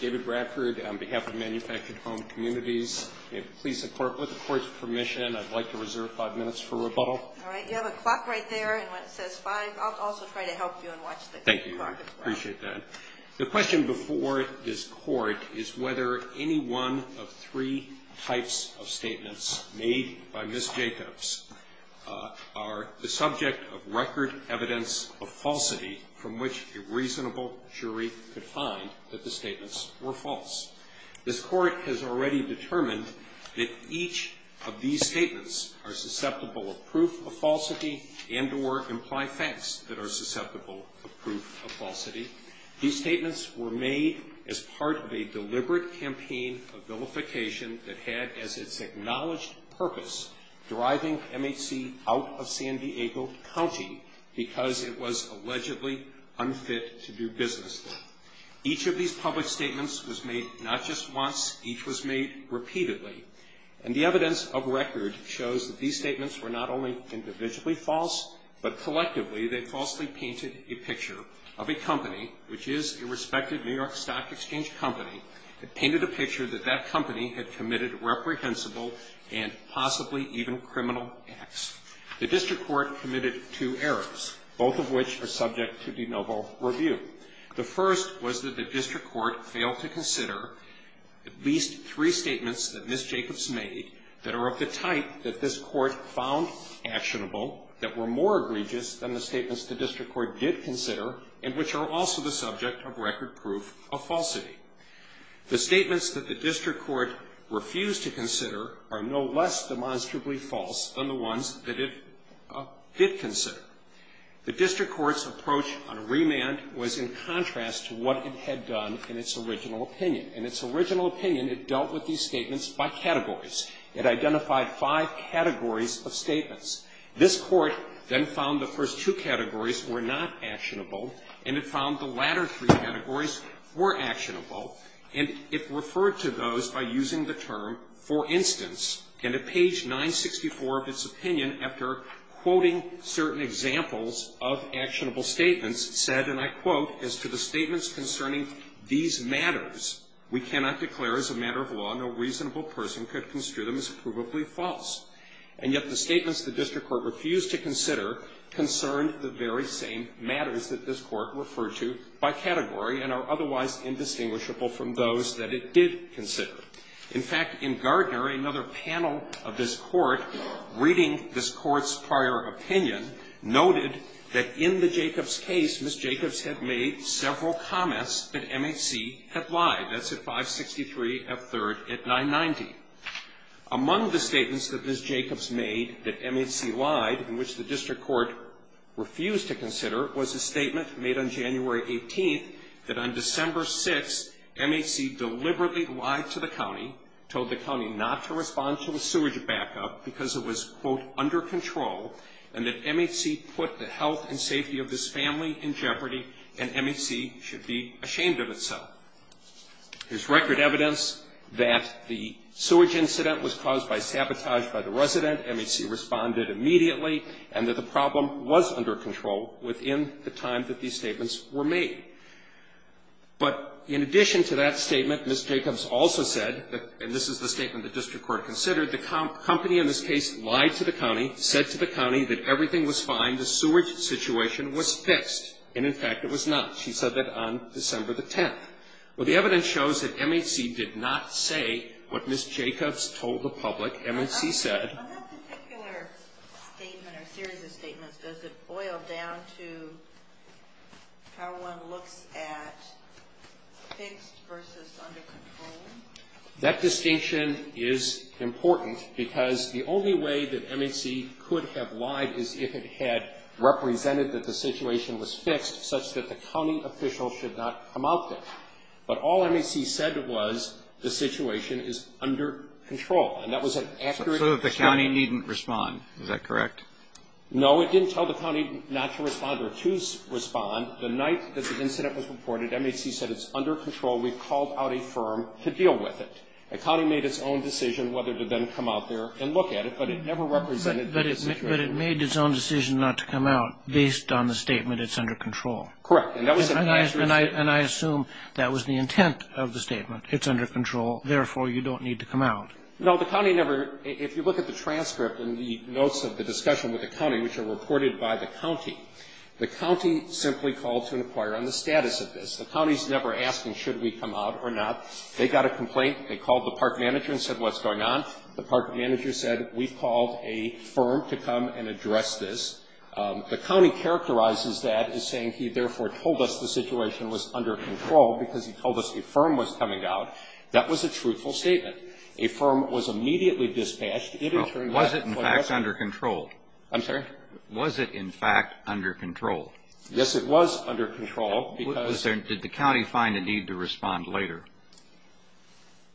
David Bradford on behalf of Manufactured Home Communities. May it please the Court, with the Court's permission, I'd like to reserve five minutes for rebuttal. All right. You have a clock right there, and when it says five, I'll also try to help you and watch the clock as well. Thank you. I appreciate that. The question before this Court is whether any one of three types of statements made by Ms. Jacobs are the subject of record evidence of falsity from which a reasonable jury could find that the statements were false. This Court has already determined that each of these statements are susceptible of proof of falsity and or imply facts that are susceptible of proof of falsity. These statements were made as part of a deliberate campaign of vilification that had as its acknowledged purpose driving MHC out of San Diego County because it was allegedly unfit to do business there. Each of these public statements was made not just once, each was made repeatedly. And the evidence of record shows that these statements were not only individually false, but collectively they falsely painted a picture of a company, which is a respected New York Stock Exchange company, painted a picture that that company had committed reprehensible and possibly even criminal acts. The District Court committed two errors, both of which are subject to de novo review. The first was that the District Court failed to consider at least three statements that Ms. Jacobs made that are of the type that this Court found actionable, that were more egregious than the statements the District Court did consider, and which are also the subject of record proof of falsity. The statements that the District Court refused to consider are no less demonstrably false than the ones that it did consider. The District Court's approach on a remand was in contrast to what it had done in its original opinion. In its original opinion, it dealt with these statements by categories. It identified five categories of statements. This Court then found the first two categories were not actionable, and it found the latter three categories were actionable. And it referred to those by using the term, for instance. And at page 964 of its opinion, after quoting certain examples of actionable statements, said, and I quote, as to the statements concerning these matters, we cannot declare as a matter of law no reasonable person could construe them as provably false. And yet the statements the District Court refused to consider concerned the very same matters that this Court referred to by category and are otherwise indistinguishable from those that it did consider. In fact, in Gardner, another panel of this Court, reading this Court's prior opinion, noted that in the Jacobs case, Ms. Jacobs had made several comments that MHC had lied. That's at 563 F. 3rd at 990. Among the statements that Ms. Jacobs made that MHC lied, in which the District Court refused to consider, was a statement made on January 18th that on December 6th, MHC deliberately lied to the county, told the county not to respond to a sewage backup because it was, quote, under control, and that MHC put the health and safety of this family in jeopardy, and MHC should be ashamed of itself. There's record evidence that the sewage incident was caused by sabotage by the resident. MHC responded immediately and that the problem was under control within the time that these statements were made. But in addition to that statement, Ms. Jacobs also said, and this is the statement the District Court considered, the company in this case lied to the county, said to the county that everything was fine, the sewage situation was fixed. And in fact, it was not. She said that on December the 10th. Well, the evidence shows that MHC did not say what Ms. Jacobs told the public. MHC said. On that particular statement or series of statements, does it boil down to how one looks at fixed versus under control? That distinction is important because the only way that MHC could have lied is if it had represented that the situation was fixed such that the county official should not come out there. But all MHC said was the situation is under control. And that was an accurate response. So the county didn't respond. Is that correct? No, it didn't tell the county not to respond or to respond. The night that the incident was reported, MHC said it's under control. We've called out a firm to deal with it. The county made its own decision whether to then come out there and look at it, but it never represented that it was under control. But it made its own decision not to come out based on the statement it's under control. Correct. And that was an accurate response. And I assume that was the intent of the statement. It's under control. Therefore, you don't need to come out. No, the county never – if you look at the transcript and the notes of the discussion with the county, which are reported by the county, the county simply called to inquire on the status of this. The county is never asking should we come out or not. They got a complaint. They called the park manager and said what's going on. The park manager said we've called a firm to come and address this. The county characterizes that as saying he therefore told us the situation was under control because he told us a firm was coming out. That was a truthful statement. A firm was immediately dispatched. Was it, in fact, under control? I'm sorry? Was it, in fact, under control? Yes, it was under control because – Did the county find a need to respond later?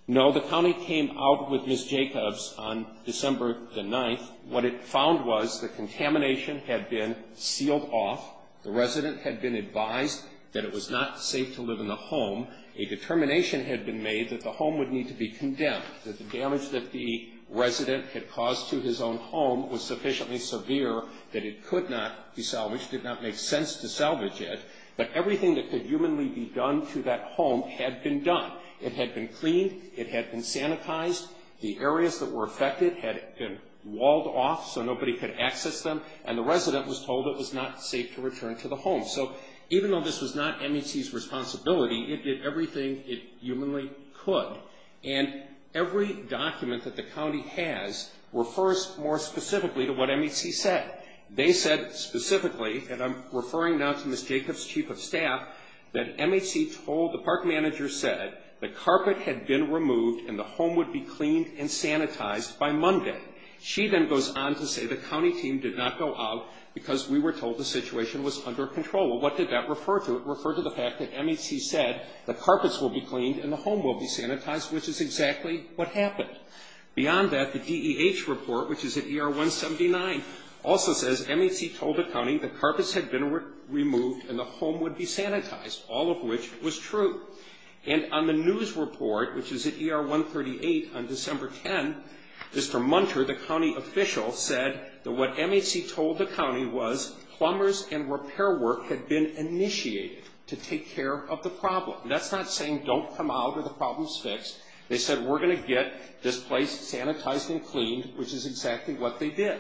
No. The county came out with Ms. Jacobs on December the 9th. What it found was the contamination had been sealed off. The resident had been advised that it was not safe to live in the home. A determination had been made that the home would need to be condemned, that the damage that the resident had caused to his own home was sufficiently severe that it could not be salvaged, did not make sense to salvage it. But everything that could humanly be done to that home had been done. It had been cleaned. It had been sanitized. The areas that were affected had been walled off so nobody could access them, and the resident was told it was not safe to return to the home. So even though this was not MHC's responsibility, it did everything it humanly could. And every document that the county has refers more specifically to what MHC said. They said specifically, and I'm referring now to Ms. Jacobs, chief of staff, that MHC told – the park manager said the carpet had been removed and the home would be cleaned and sanitized by Monday. She then goes on to say the county team did not go out because we were told the What did that refer to? It referred to the fact that MHC said the carpets will be cleaned and the home will be sanitized, which is exactly what happened. Beyond that, the DEH report, which is at ER 179, also says MHC told the county the carpets had been removed and the home would be sanitized, all of which was true. And on the news report, which is at ER 138 on December 10, Mr. Munter, the county official, said that what MHC told the county was plumbers and repair work had been initiated to take care of the problem. And that's not saying don't come out or the problem's fixed. They said we're going to get this place sanitized and cleaned, which is exactly what they did.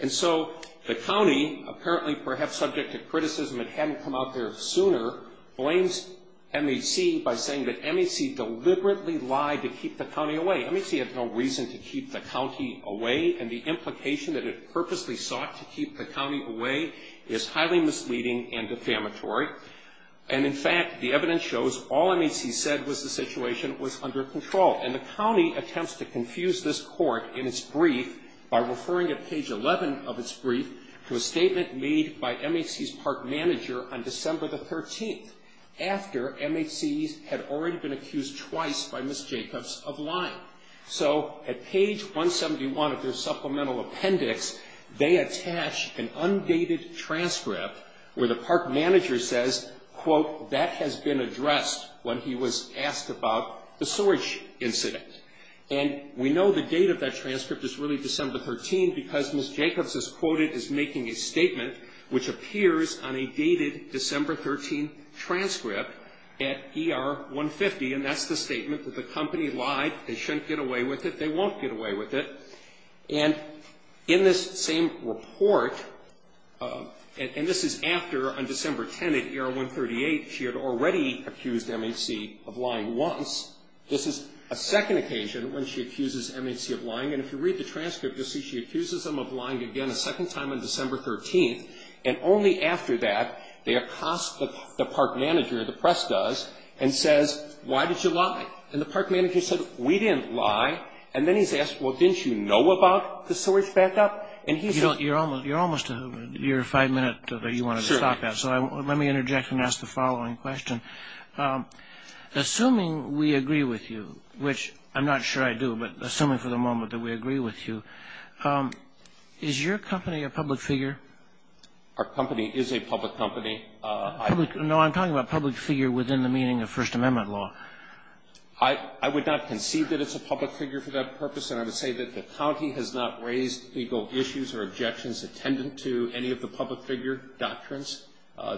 And so the county, apparently perhaps subject to criticism it hadn't come out there sooner, blames MHC by saying that MHC deliberately lied to keep the county away. MHC had no reason to keep the county away, and the implication that it And, in fact, the evidence shows all MHC said was the situation was under control. And the county attempts to confuse this court in its brief by referring at page 11 of its brief to a statement made by MHC's park manager on December the 13th, after MHC had already been accused twice by Ms. Jacobs of lying. So at page 171 of their supplemental appendix, they attach an undated transcript where the park manager says, quote, that has been addressed when he was asked about the sewage incident. And we know the date of that transcript is really December the 13th because Ms. Jacobs is quoted as making a statement which appears on a dated December 13th transcript at ER 150, and that's the statement that the company lied. They shouldn't get away with it. They won't get away with it. And in this same report, and this is after on December 10 at ER 138, she had already accused MHC of lying once. This is a second occasion when she accuses MHC of lying. And if you read the transcript, you'll see she accuses them of lying again a second time on December 13th. And only after that, they accost the park manager, the press does, and says, why did you lie? And the park manager said, we didn't lie. And then he's asked, well, didn't you know about the sewage backup? And he said- You're almost to, you're five minutes, but you wanted to stop that. So let me interject and ask the following question. Assuming we agree with you, which I'm not sure I do, but assuming for the moment that we agree with you, is your company a public figure? Our company is a public company. No, I'm talking about public figure within the meaning of First Amendment law. I would not concede that it's a public figure for that purpose, and I would say that the county has not raised legal issues or objections attendant to any of the public figure doctrines.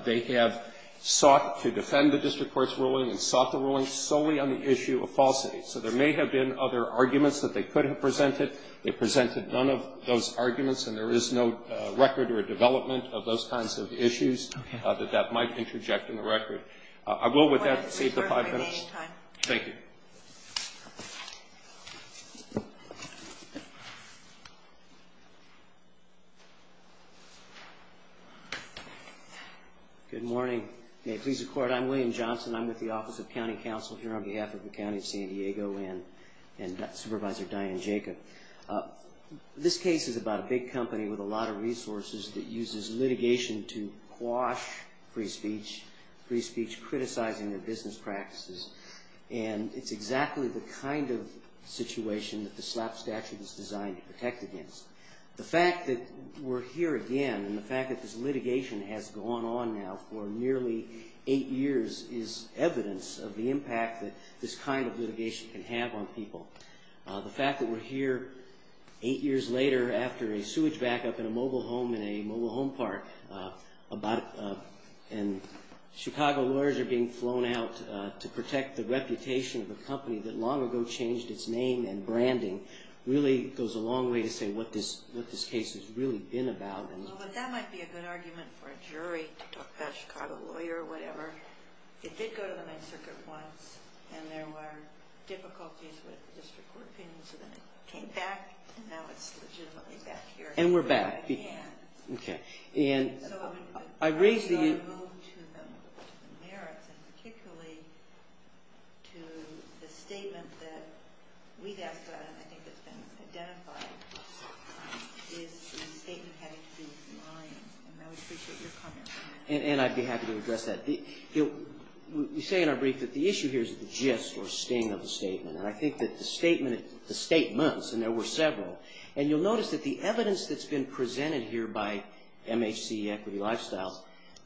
They have sought to defend the district court's ruling and sought the ruling solely on the issue of falsity. So there may have been other arguments that they could have presented. They presented none of those arguments, and there is no record or development of those kinds of issues that that might interject in the record. I will, with that, save the five minutes. Thank you. Good morning. May it please the Court, I'm William Johnson. I'm with the Office of County Counsel here on behalf of the County of San Diego and Supervisor Diane Jacob. This case is about a big company with a lot of resources that uses litigation to criticize their business practices, and it's exactly the kind of situation that the SLAP statute is designed to protect against. The fact that we're here again and the fact that this litigation has gone on now for nearly eight years is evidence of the impact that this kind of litigation can have on people. The fact that we're here eight years later after a sewage backup in a mobile home park and Chicago lawyers are being flown out to protect the reputation of a company that long ago changed its name and branding really goes a long way to say what this case has really been about. Well, but that might be a good argument for a jury to talk about a Chicago lawyer or whatever. It did go to the Ninth Circuit once, and there were difficulties with district court opinions, and then it came back, and now it's legitimately back here. And we're back. Yeah. Okay. And I raise the issue. So I think we ought to move to the merits, and particularly to the statement that we've asked about, and I think it's been identified, is the statement having to be lying. And I would appreciate your comment on that. And I'd be happy to address that. You say in our brief that the issue here is the gist or sting of the statement, and I think that the statement, the statements, and there were several, and you'll see in the evidence that's been presented here by MHC Equity Lifestyles,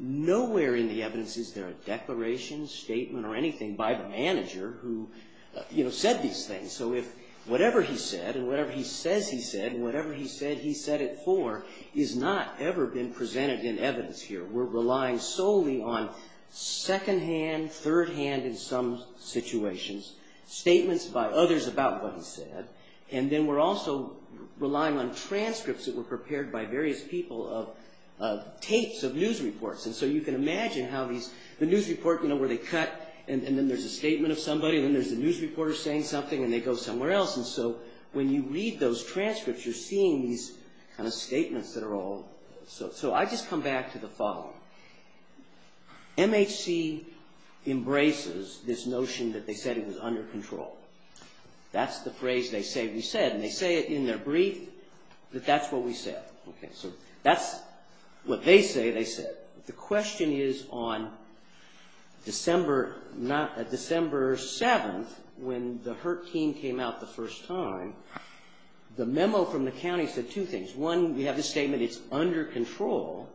nowhere in the evidence is there a declaration, statement, or anything by the manager who said these things. So if whatever he said and whatever he says he said and whatever he said he said it for has not ever been presented in evidence here. We're relying solely on second-hand, third-hand in some situations, statements by others about what he said, and then we're also relying on transcripts that were prepared by various people of tapes of news reports. And so you can imagine how these, the news report, you know, where they cut, and then there's a statement of somebody, and then there's a news reporter saying something, and they go somewhere else. And so when you read those transcripts, you're seeing these kind of statements that are all, so I just come back to the following. MHC embraces this notion that they said it was under control. That's the phrase they say, we said, and they say it in their brief that that's what we said. Okay, so that's what they say they said. The question is on December 7th when the HURT team came out the first time, the memo from the county said two things. One, we have this statement, it's under control.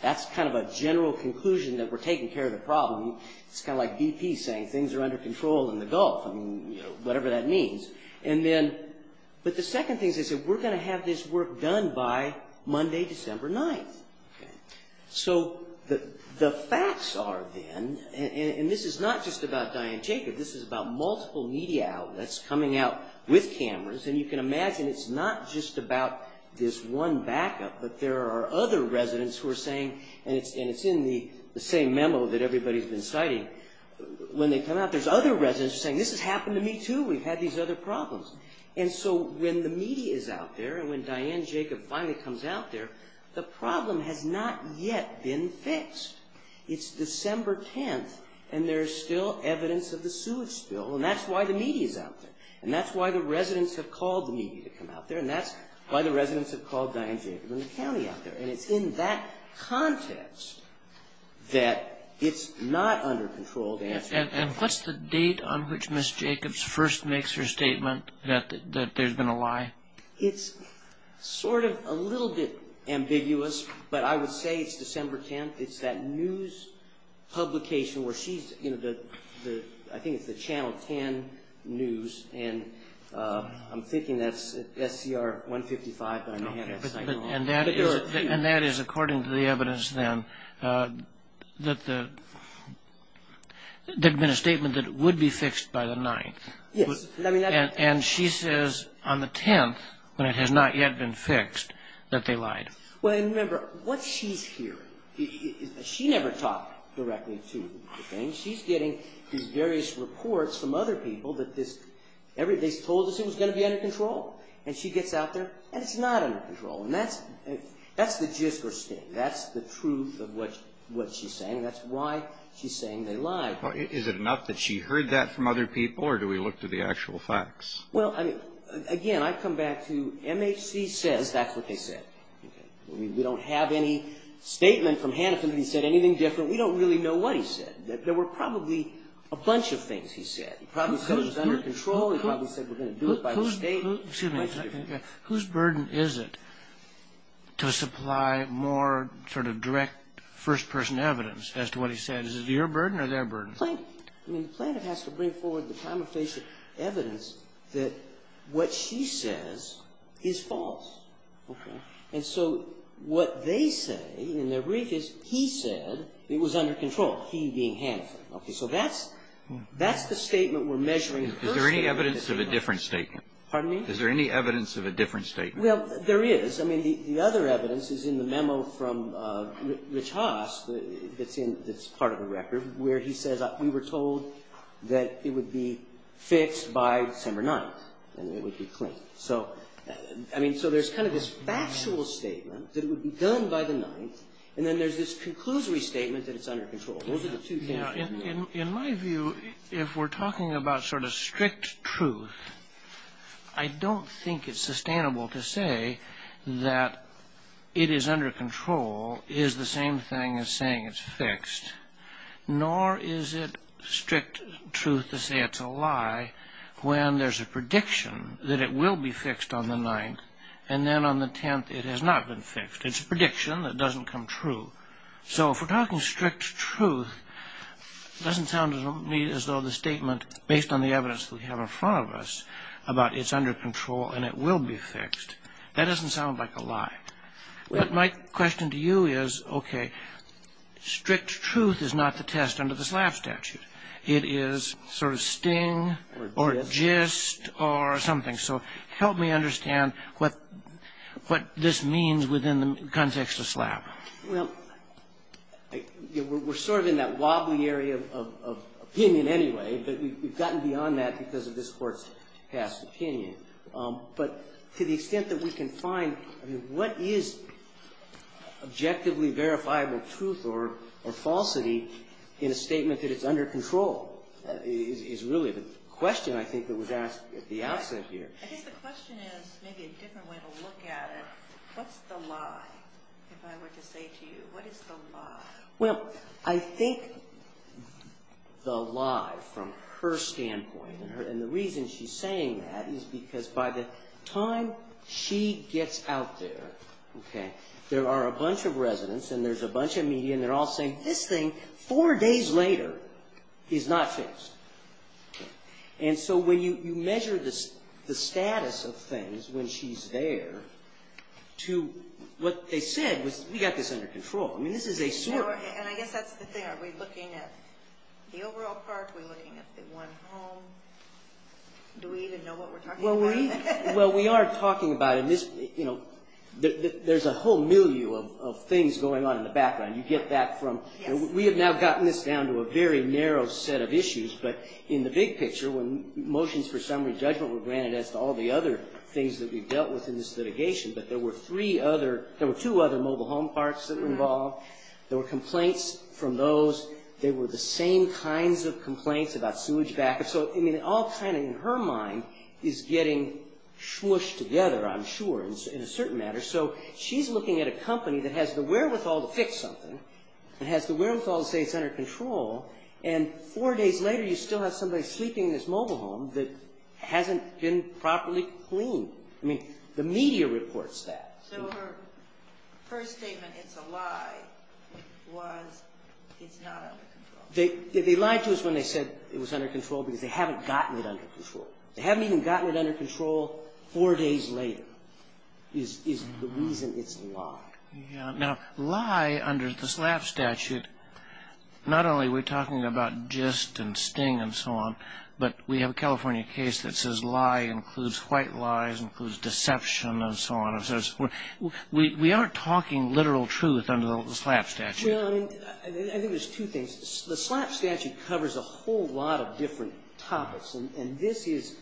That's kind of a general conclusion that we're taking care of the problem. It's kind of like BP saying things are under control in the Gulf. I mean, you know, whatever that means. And then, but the second thing is they said we're going to have this work done by Monday, December 9th. Okay. So the facts are then, and this is not just about Diane Jacob, this is about multiple media outlets coming out with cameras, and you can imagine it's not just about this one backup, but there are other residents who are saying, and it's in the same memo that everybody's been citing. When they come out, there's other residents saying, this has happened to me too. We've had these other problems. And so when the media is out there, and when Diane Jacob finally comes out there, the problem has not yet been fixed. It's December 10th, and there's still evidence of the sewage spill, and that's why the media's out there. And that's why the residents have called the media to come out there, and that's why the residents have called Diane Jacob and the county out there. And it's in that context that it's not under control. And what's the date on which Ms. Jacobs first makes her statement that there's been a lie? It's sort of a little bit ambiguous, but I would say it's December 10th. It's that news publication where she's, you know, the, I think it's the Channel 10 News, and I'm thinking that's SCR 155. And that is according to the evidence, then, that there had been a statement that it would be fixed by the 9th. Yes. And she says on the 10th, when it has not yet been fixed, that they lied. Well, and remember, what she's hearing, she never talked directly to the thing. She's getting these various reports from other people that this, they told us it was going to be under control. And she gets out there, and it's not under control. And that's the jist or sting. That's the truth of what she's saying, and that's why she's saying they lied. Is it enough that she heard that from other people, or do we look to the actual facts? Well, I mean, again, I come back to MHC says that's what they said. We don't have any statement from Hannifin that he said anything different. We don't really know what he said. There were probably a bunch of things he said. He probably said it was under control. He probably said we're going to do it by the state. Excuse me. Whose burden is it to supply more sort of direct first-person evidence as to what he said? Is it your burden or their burden? Plaintiff. I mean, the plaintiff has to bring forward the prima facie evidence that what she says is false. Okay. And so what they say in their brief is he said it was under control, he being Hannifin. Okay. So that's the statement we're measuring. Is there any evidence of a different statement? Pardon me? Is there any evidence of a different statement? Well, there is. I mean, the other evidence is in the memo from Rich Haas that's part of the record, where he says we were told that it would be fixed by December 9th, and it would be clean. So, I mean, so there's kind of this factual statement that it would be done by the 9th, and then there's this conclusory statement that it's under control. Those are the two things. Now, in my view, if we're talking about sort of strict truth, I don't think it's sustainable to say that it is under control is the same thing as saying it's fixed, nor is it strict truth to say it's a lie when there's a prediction that it will be fixed on the 9th, and then on the 10th it has not been fixed. It's a prediction that doesn't come true. So if we're talking strict truth, it doesn't sound to me as though the statement, based on the evidence that we have in front of us about it's under control and it will be fixed, that doesn't sound like a lie. But my question to you is, okay, strict truth is not the test under the SLAPP statute. It is sort of sting or gist or something. So help me understand what this means within the context of SLAPP. Well, we're sort of in that wobbly area of opinion anyway, but we've gotten beyond that because of this Court's past opinion. But to the extent that we can find what is objectively verifiable truth or falsity in a statement that it's under control is really the question, I think, that was asked at the outset here. I think the question is maybe a different way to look at it. What's the lie, if I were to say to you, what is the lie? Well, I think the lie, from her standpoint, and the reason she's saying that is because by the time she gets out there, there are a bunch of residents and there's a bunch of media and they're all saying, this thing, four days later, is not fixed. And so when you measure the status of things when she's there to what they said was, we've got this under control. And I guess that's the thing. Are we looking at the overall part? Are we looking at the one home? Do we even know what we're talking about? Well, we are talking about it. There's a whole milieu of things going on in the background. We have now gotten this down to a very narrow set of issues, but in the big picture, when motions for summary judgment were granted as to all the other things that we've dealt with in this litigation, but there were two other mobile home parts that were involved. There were complaints from those. There were the same kinds of complaints about sewage backup. So all kind of in her mind is getting swooshed together, I'm sure, in a certain manner. So she's looking at a company that has the wherewithal to fix something and has the wherewithal to say it's under control, and four days later you still have somebody sleeping in this mobile home that hasn't been properly cleaned. I mean, the media reports that. So her first statement, it's a lie, was it's not under control. They lied to us when they said it was under control because they haven't gotten it under control. They haven't even gotten it under control four days later is the reason it's a lie. Now, lie under the SLAP statute, not only are we talking about gist and sting and so on, but we have a California case that says lie includes white lies, includes deception and so on. We aren't talking literal truth under the SLAP statute. Well, I mean, I think there's two things. The SLAP statute covers a whole lot of different topics, and this is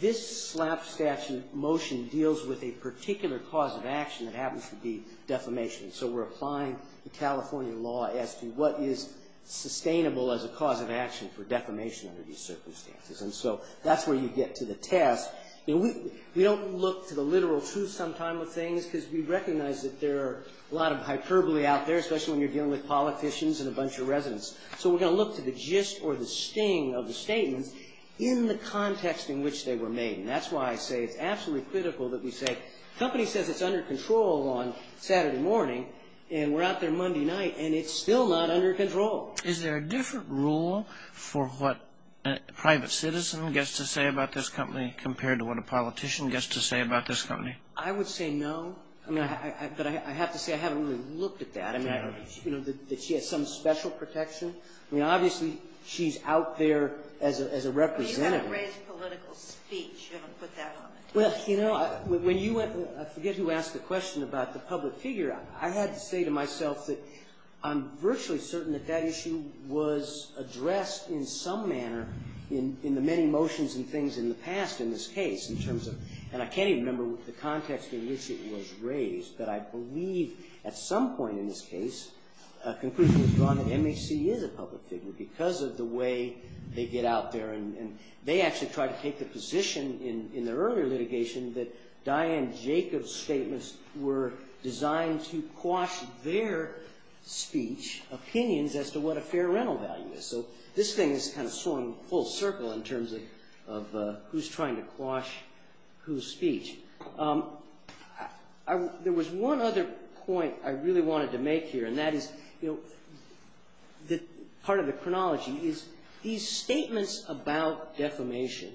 this SLAP statute motion deals with a particular cause of action that happens to be defamation. So we're applying the California law as to what is sustainable as a cause of action for defamation under these circumstances. And so that's where you get to the test. We don't look to the literal truth sometimes with things because we recognize that there are a lot of hyperbole out there, especially when you're dealing with politicians and a bunch of residents. So we're going to look to the gist or the sting of the statement in the context in which they were made. And that's why I say it's absolutely critical that we say, the company says it's under control on Saturday morning and we're out there Monday night and it's still not under control. Is there a different rule for what a private citizen gets to say about this company compared to what a politician gets to say about this company? I would say no, but I have to say I haven't really looked at that. I mean, you know, that she has some special protection. I mean, obviously she's out there as a representative. She hasn't raised political speech. You haven't put that on it. Well, you know, I forget who asked the question about the public figure. I had to say to myself that I'm virtually certain that that issue was addressed in some manner in the many motions and things in the past in this case in terms of, and I can't even remember the context in which it was raised, but I believe at some point in this case a conclusion was drawn that MHC is a public figure because of the way they get out there. And they actually tried to take the position in their earlier litigation that Diane Jacobs' statements were designed to quash their speech, opinions as to what a fair rental value is. So this thing is kind of swung full circle in terms of who's trying to quash whose speech. There was one other point I really wanted to make here, and that is part of the chronology is these statements about defamation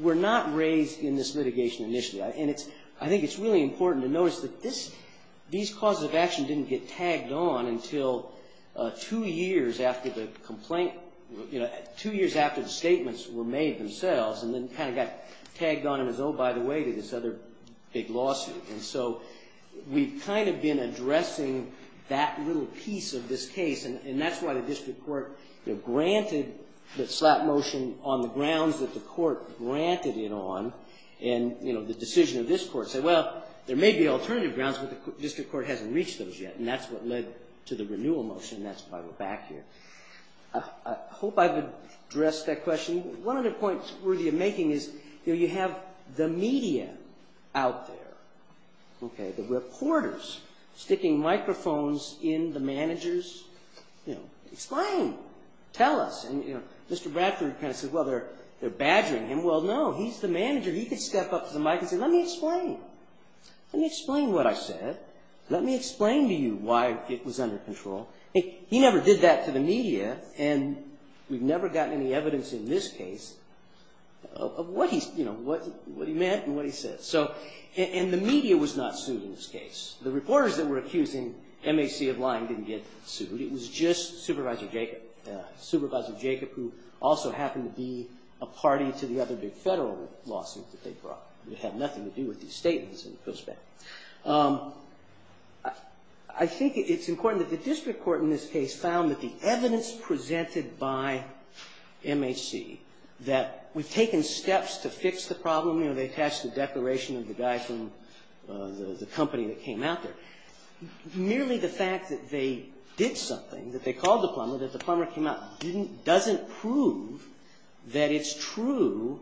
were not raised in this litigation initially. And I think it's really important to notice that these causes of action didn't get tagged on until two years after the statements were made themselves and then kind of got tagged on as, oh, by the way, to this other big lawsuit. And so we've kind of been addressing that little piece of this case, and that's why the district court granted the slap motion on the grounds that the court granted it on. And the decision of this court said, well, there may be alternative grounds, but the district court hasn't reached those yet, and that's what led to the renewal motion, and that's why we're back here. I hope I've addressed that question. One of the points worthy of making is you have the media out there, the reporters sticking microphones in the managers. Explain. Tell us. And Mr. Bradford kind of says, well, they're badgering him. Well, no, he's the manager. He could step up to the mic and say, let me explain. Let me explain what I said. Let me explain to you why it was under control. He never did that to the media, and we've never gotten any evidence in this case of what he meant and what he said. And the media was not sued in this case. The reporters that were accusing MHC of lying didn't get sued. It was just Supervisor Jacob, Supervisor Jacob, who also happened to be a party to the other big federal lawsuit that they brought. It had nothing to do with these statements in this case. I think it's important that the district court in this case found that the evidence presented by MHC that we've taken steps to fix the problem, you know, they attached the declaration of the guy from the company that came out there. Nearly the fact that they did something, that they called the plumber, that the plumber came out, doesn't prove that it's true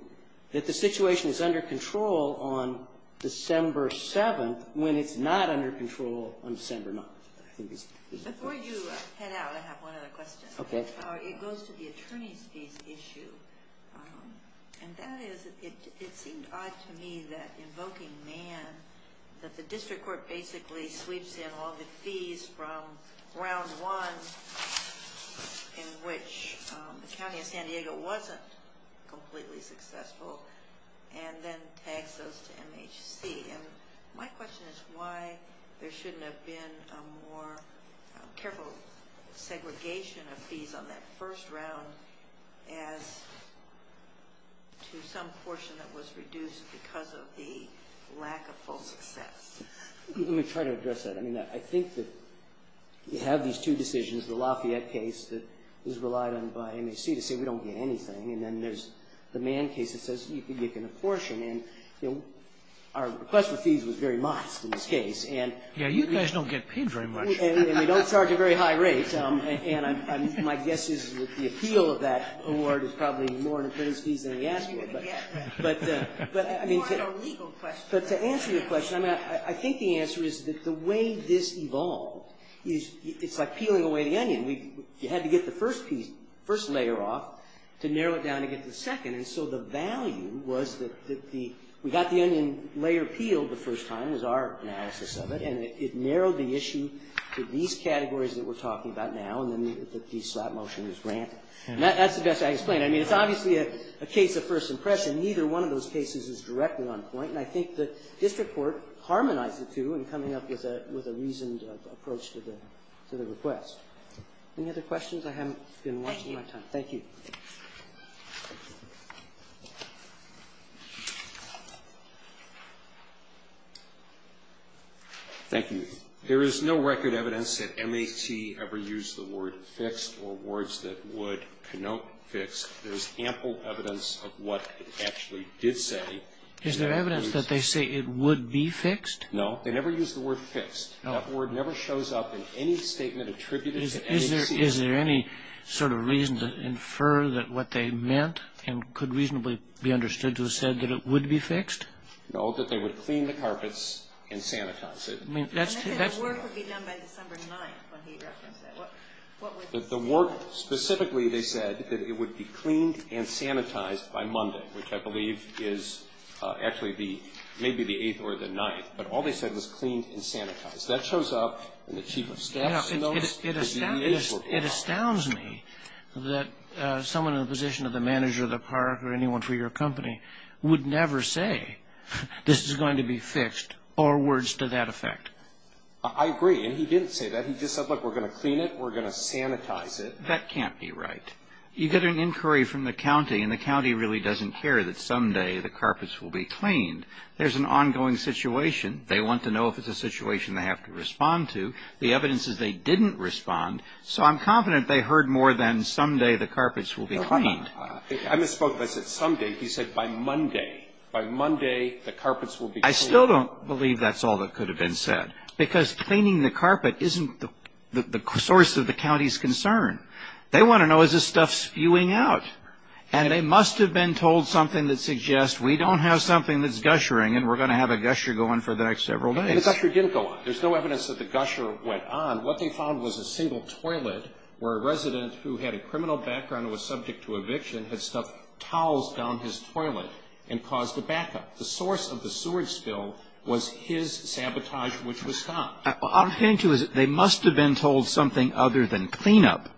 that the situation is under control on December 7th when it's not under control on December 9th. Before you head out, I have one other question. Okay. It goes to the attorney's fees issue. And that is, it seemed odd to me that invoking Mann, that the district court basically sweeps in all the fees from round one in which the county of San Diego wasn't completely successful and then tags those to MHC. And my question is why there shouldn't have been a more careful segregation of fees on that first round as to some portion that was reduced because of the lack of full success. Let me try to address that. I mean, I think that you have these two decisions, the Lafayette case that was relied on by MHC to say we don't get anything, and then there's the Mann case that says you can apportion. And our request for fees was very modest in this case. Yeah, you guys don't get paid very much. And we don't charge a very high rate. And my guess is that the appeal of that award is probably more in the plaintiff's fees than he asked for. But to answer your question, I think the answer is that the way this evolved, it's like peeling away the onion. You had to get the first layer off to narrow it down to get the second. And so the value was that we got the onion layer peeled the first time was our analysis of it, and it narrowed the issue to these categories that we're talking about now, and then the slap motion was granted. And that's the best way I can explain it. I mean, it's obviously a case of first impression. Neither one of those cases is directly on point. And I think the district court harmonized the two in coming up with a reasoned approach to the request. Any other questions? I haven't been watching my time. Thank you. Thank you. There is no record evidence that MAT ever used the word fixed or words that would connote fixed. There's ample evidence of what it actually did say. Is there evidence that they say it would be fixed? No. They never used the word fixed. That word never shows up in any statement attributed to MHC. Is there any sort of reason to infer that what they meant and could reasonably be understood to have said that it would be fixed? No, that they would clean the carpets and sanitize it. I mean, that's true. The work would be done by December 9th when he referenced it. The work specifically they said that it would be cleaned and sanitized by Monday, which I believe is actually maybe the 8th or the 9th. But all they said was cleaned and sanitized. That shows up in the chief of staff's notes. It astounds me that someone in the position of the manager of the park or anyone for your company would never say this is going to be fixed or words to that effect. I agree. And he didn't say that. He just said, look, we're going to clean it. We're going to sanitize it. That can't be right. You get an inquiry from the county, and the county really doesn't care that someday the carpets will be cleaned. There's an ongoing situation. They want to know if it's a situation they have to respond to. The evidence is they didn't respond. So I'm confident they heard more than someday the carpets will be cleaned. I misspoke. I said someday. He said by Monday. By Monday the carpets will be cleaned. I still don't believe that's all that could have been said, because cleaning the carpet isn't the source of the county's concern. They want to know is this stuff spewing out. And they must have been told something that suggests we don't have something that's gushering and we're going to have a gusher going for the next several days. The gusher didn't go on. There's no evidence that the gusher went on. What they found was a single toilet where a resident who had a criminal background and was subject to eviction had stuffed towels down his toilet and caused a backup. The source of the sewage spill was his sabotage, which was stopped. What I'm saying to you is they must have been told something other than cleanup.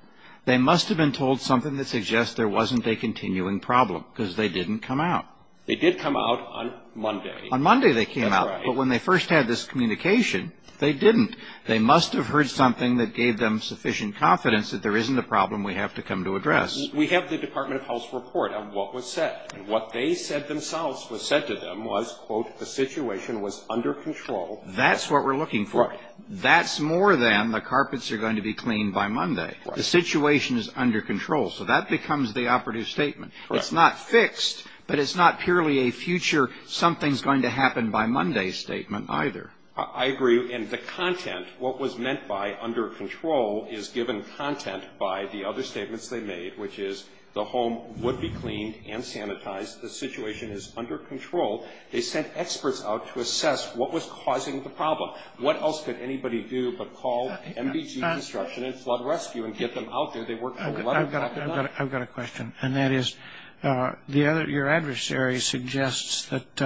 They must have been told something that suggests there wasn't a continuing problem, because they didn't come out. They did come out on Monday. On Monday they came out. That's right. But when they first had this communication, they didn't. They must have heard something that gave them sufficient confidence that there isn't a problem we have to come to address. We have the Department of Health's report on what was said. And what they said themselves was said to them was, quote, the situation was under control. That's what we're looking for. That's more than the carpets are going to be cleaned by Monday. The situation is under control. So that becomes the operative statement. It's not fixed, but it's not purely a future something's going to happen by Monday statement either. I agree. And the content, what was meant by under control, is given content by the other statements they made, which is the home would be cleaned and sanitized. The situation is under control. They sent experts out to assess what was causing the problem. What else could anybody do but call MBG Construction and Flood Rescue and get them out there? They worked for 11 and a half hours. I've got a question, and that is your adversary suggests that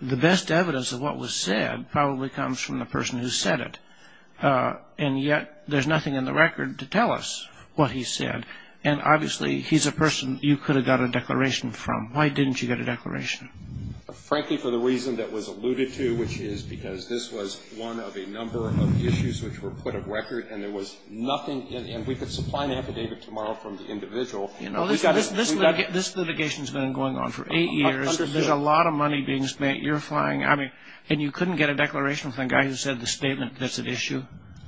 the best evidence of what was said probably comes from the person who said it. And yet there's nothing in the record to tell us what he said. And obviously he's a person you could have got a declaration from. Why didn't you get a declaration? Frankly, for the reason that was alluded to, which is because this was one of a number of issues which were put of record, and there was nothing. And we could supply an affidavit tomorrow from the individual. This litigation has been going on for eight years. There's a lot of money being spent. You're flying. I mean, and you couldn't get a declaration from the guy who said the statement that's at issue?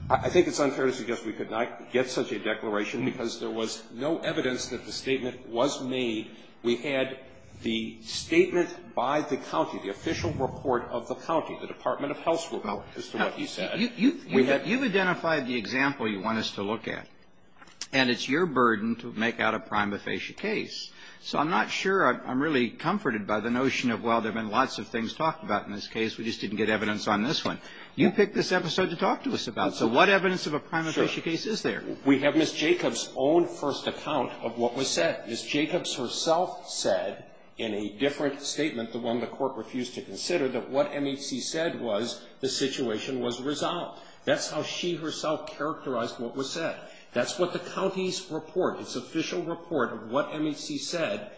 I think it's unfair to suggest we could not get such a declaration, because there was no evidence that the statement was made. We had the statement by the county, the official report of the county, the Department of Health's report as to what he said. You've identified the example you want us to look at, and it's your burden to make out a prima facie case. So I'm not sure I'm really comforted by the notion of, well, there have been lots of things talked about in this case. We just didn't get evidence on this one. You picked this episode to talk to us about. So what evidence of a prima facie case is there? We have Ms. Jacobs' own first account of what was said. Ms. Jacobs herself said in a different statement, the one the court refused to consider, that what MHC said was the situation was resolved. That's how she herself characterized what was said. That's what the county's report, its official report of what MHC said,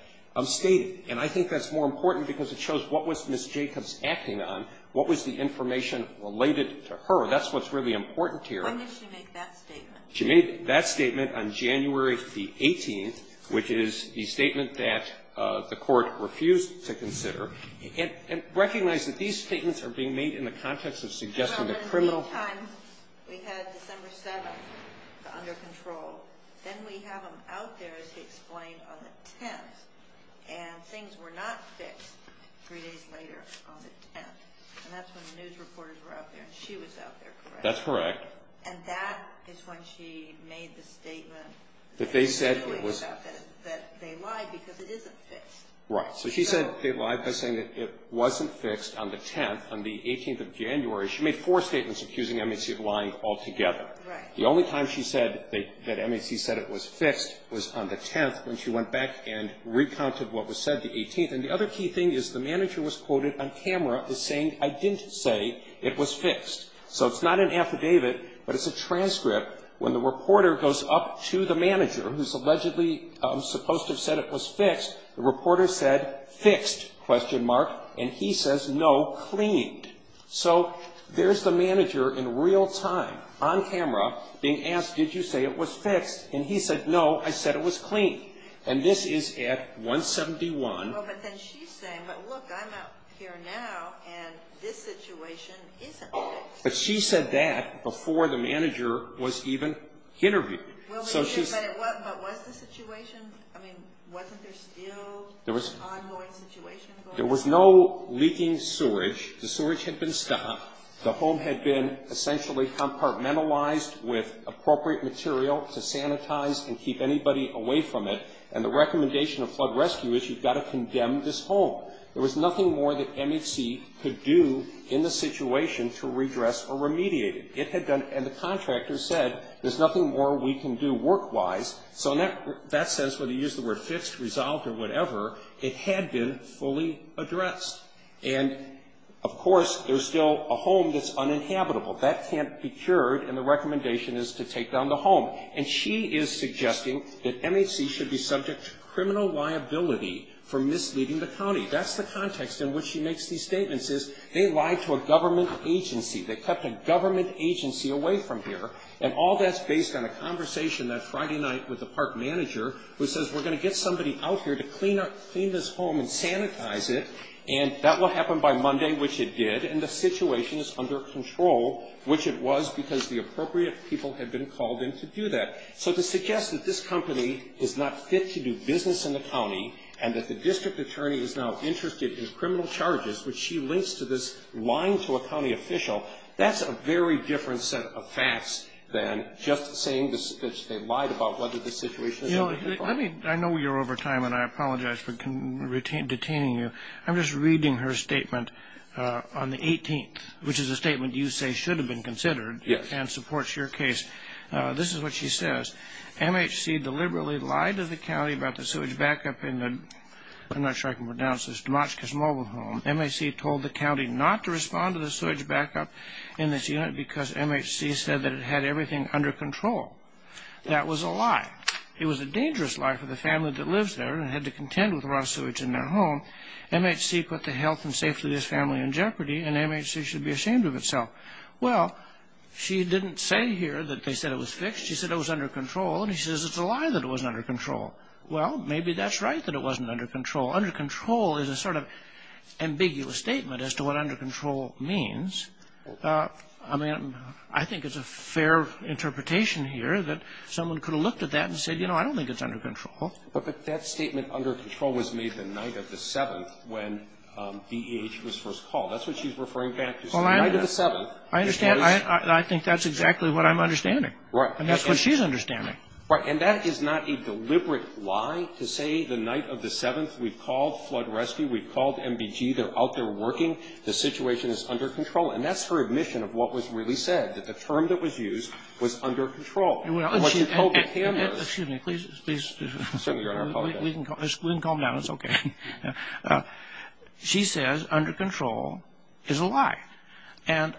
stated. And I think that's more important because it shows what was Ms. Jacobs acting on, what was the information related to her. That's what's really important here. Why did she make that statement? She made that statement on January the 18th, which is the statement that the court refused to consider. And recognize that these statements are being made in the context of suggesting a criminal Well, there were three times. We had December 7th under control. Then we have them out there, as he explained, on the 10th. And things were not fixed three days later on the 10th. And that's when the news reporters were out there, and she was out there, correct? That's correct. And that is when she made the statement that they lied because it isn't fixed. Right. So she said they lied by saying that it wasn't fixed on the 10th. On the 18th of January, she made four statements accusing MHC of lying altogether. Right. The only time she said that MHC said it was fixed was on the 10th, when she went back and recounted what was said the 18th. And the other key thing is the manager was quoted on camera as saying, I didn't say it was fixed. So it's not an affidavit, but it's a transcript. When the reporter goes up to the manager, who's allegedly supposed to have said it was fixed, the reporter said, fixed, question mark, and he says, no, cleaned. So there's the manager in real time, on camera, being asked, did you say it was fixed? And he said, no, I said it was cleaned. And this is at 171. Well, but then she's saying, but look, I'm out here now, and this situation isn't fixed. But she said that before the manager was even interviewed. But was the situation, I mean, wasn't there still ongoing situation going on? There was no leaking sewage. The sewage had been stopped. The home had been essentially compartmentalized with appropriate material to sanitize and keep anybody away from it. And the recommendation of flood rescue is you've got to condemn this home. There was nothing more that MHC could do in the situation to redress or remediate it. It had done, and the contractor said, there's nothing more we can do work-wise. So in that sense, whether you use the word fixed, resolved, or whatever, it had been fully addressed. And, of course, there's still a home that's uninhabitable. That can't be cured, and the recommendation is to take down the home. And she is suggesting that MHC should be subject to criminal liability for misleading the county. That's the context in which she makes these statements, is they lied to a government agency. They kept a government agency away from here. And all that's based on a conversation that Friday night with the park manager who says, we're going to get somebody out here to clean this home and sanitize it, and that will happen by Monday, which it did, and the situation is under control, which it was because the appropriate people had been called in to do that. So to suggest that this company is not fit to do business in the county, and that the district attorney is now interested in criminal charges, which she links to this lying to a county official, that's a very different set of facts than just saying that they lied about whether the situation is under control. I mean, I know you're over time, and I apologize for detaining you. I'm just reading her statement on the 18th, which is a statement you say should have been considered. Yes. And supports your case. This is what she says. MHC deliberately lied to the county about the sewage backup in the, I'm not sure I can pronounce this, Demotchkis mobile home. MHC told the county not to respond to the sewage backup in this unit because MHC said that it had everything under control. That was a lie. It was a dangerous lie for the family that lives there and had to contend with the raw sewage in their home. MHC put the health and safety of this family in jeopardy, and MHC should be ashamed of itself. Well, she didn't say here that they said it was fixed. She said it was under control, and she says it's a lie that it wasn't under control. Well, maybe that's right that it wasn't under control. Under control is a sort of ambiguous statement as to what under control means. I mean, I think it's a fair interpretation here that someone could have looked at that and said, you know, I don't think it's under control. But that statement under control was made the night of the 7th when DEH was first called. That's what she's referring back to. The night of the 7th. I understand. I think that's exactly what I'm understanding. Right. And that's what she's understanding. Right. And that is not a deliberate lie to say the night of the 7th we called flood rescue, we called MBG, they're out there working, the situation is under control. And that's her admission of what was really said, that the term that was used was under control. And what you told the cameras. Excuse me. Please. We can calm down. It's okay. She says under control is a lie. And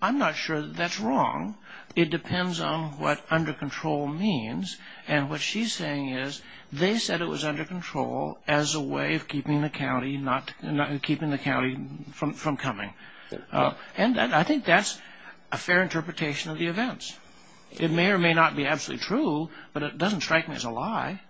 I'm not sure that that's wrong. It depends on what under control means. And what she's saying is they said it was under control as a way of keeping the county from coming. And I think that's a fair interpretation of the events. It may or may not be absolutely true, but it doesn't strike me as a lie.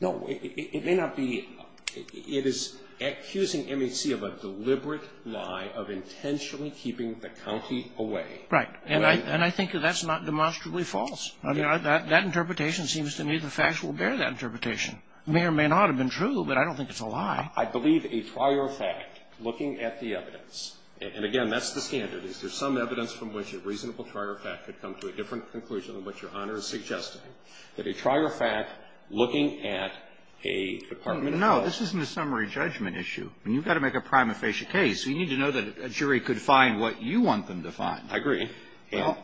No, it may not be. It is accusing MHC of a deliberate lie of intentionally keeping the county away. Right. And I think that's not demonstrably false. That interpretation seems to me the facts will bear that interpretation. It may or may not have been true, but I don't think it's a lie. I believe a prior fact looking at the evidence. And, again, that's the standard. There's some evidence from which a reasonable prior fact could come to a different conclusion than what Your Honor is suggesting. That a prior fact looking at a department of health. No, this isn't a summary judgment issue. You've got to make a prima facie case. You need to know that a jury could find what you want them to find. I agree. Well,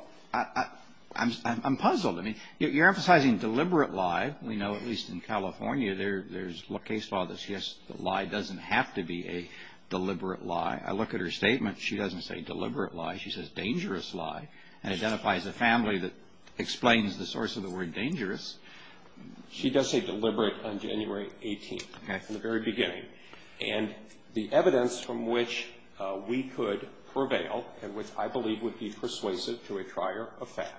I'm puzzled. I mean, you're emphasizing deliberate lie. We know, at least in California, there's a case law that the lie doesn't have to be a deliberate lie. I look at her statement. She doesn't say deliberate lie. She says dangerous lie and identifies a family that explains the source of the word dangerous. She does say deliberate on January 18th. Okay. From the very beginning. And the evidence from which we could prevail and which I believe would be persuasive to a prior effect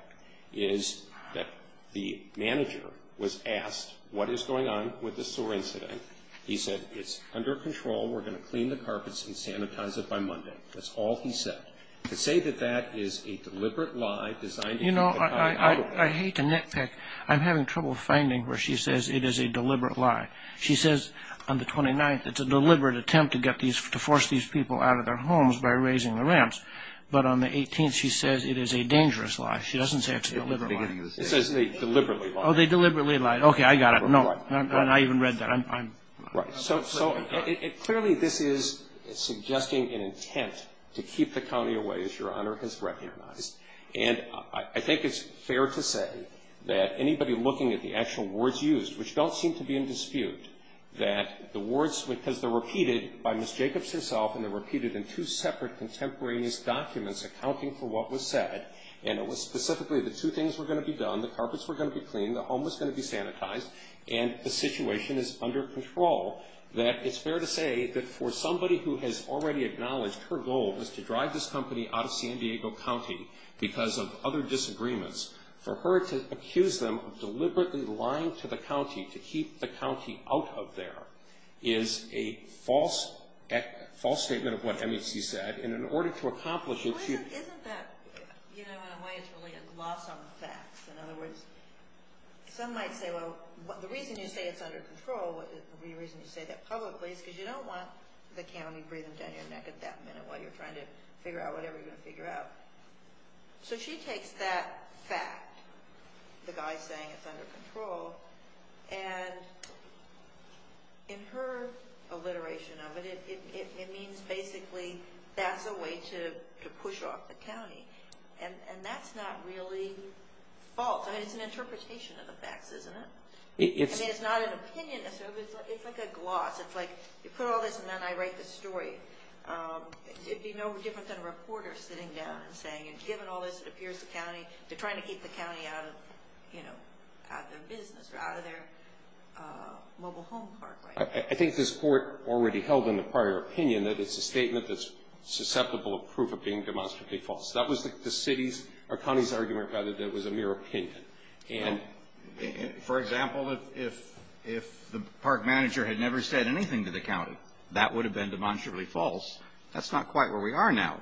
is that the manager was asked what is going on with the sewer incident. He said it's under control. We're going to clean the carpets and sanitize it by Monday. That's all he said. To say that that is a deliberate lie designed to keep the pie out of it. You know, I hate to nitpick. I'm having trouble finding where she says it is a deliberate lie. She says on the 29th it's a deliberate attempt to get these to force these people out of their homes by raising the ramps. But on the 18th she says it is a dangerous lie. She doesn't say it has to be a deliberate lie. It says they deliberately lied. Oh, they deliberately lied. Okay. I got it. No. And I even read that. I'm. Right. So clearly this is suggesting an intent to keep the county away, as Your Honor has recognized. And I think it's fair to say that anybody looking at the actual words used, which don't seem to be in dispute, that the words, because they're repeated by Ms. Jacobs herself, and they're repeated in two separate contemporaneous documents accounting for what was said, and it was specifically the two things were going to be done, the carpets were going to be cleaned, the home was going to be sanitized, and the situation is under control, that it's fair to say that for somebody who has already acknowledged her goal was to drive this company out of San Diego County because of other disagreements, for her to accuse them of deliberately lying to the county to keep the county out of there is a false statement of what MEC said. And in order to accomplish it, she. Well, isn't that, you know, in a way it's really a loss on the facts. In other words, some might say, well, the reason you say it's under control would be the reason you say that publicly is because you don't want the county breathing down your neck at that minute while you're trying to figure out whatever you're going to figure out. So she takes that fact, the guy saying it's under control, and in her alliteration of it, it means basically that's a way to push off the county, and that's not really false. It's an interpretation of the facts, isn't it? I mean, it's not an opinion. It's like a gloss. It's like you put all this, and then I write the story. It would be no different than a reporter sitting down and saying, and given all this that appears to the county, they're trying to keep the county out of, you know, out of their business or out of their mobile home park right now. I think this Court already held in the prior opinion that it's a statement that's susceptible of proof of being demonstrably false. That was the city's, or county's argument, rather, that it was a mere opinion. And for example, if the park manager had never said anything to the county, that would have been demonstrably false. That's not quite where we are now.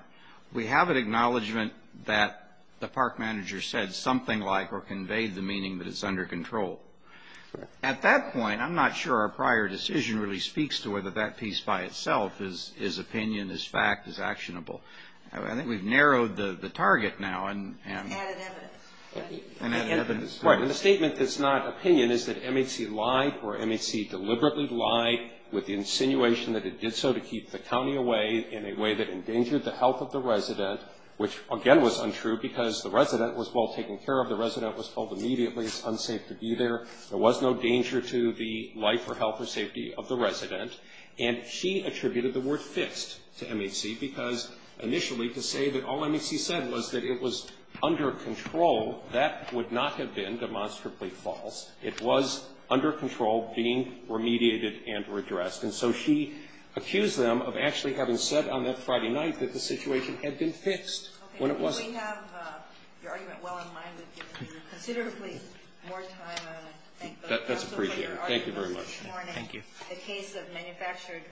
We have an acknowledgment that the park manager said something like or conveyed the meaning that it's under control. At that point, I'm not sure our prior decision really speaks to whether that piece by itself is opinion, is fact, is actionable. I think we've narrowed the target now. And added evidence. Right, and the statement that's not opinion is that MHC lied or MHC deliberately lied with the insinuation that it did so to keep the county away in a way that endangered the health of the resident, which again was untrue because the resident was well taken care of. The resident was told immediately it's unsafe to be there. There was no danger to the life or health or safety of the resident. And she attributed the word fixed to MHC because initially to say that all MHC said was that it was under control, that would not have been demonstrably false. It was under control, being remediated and redressed. And so she accused them of actually having said on that Friday night that the situation had been fixed when it wasn't. We have your argument well in mind. We've given you considerably more time. That's appreciated. Thank you very much. Thank you. The case of manufactured.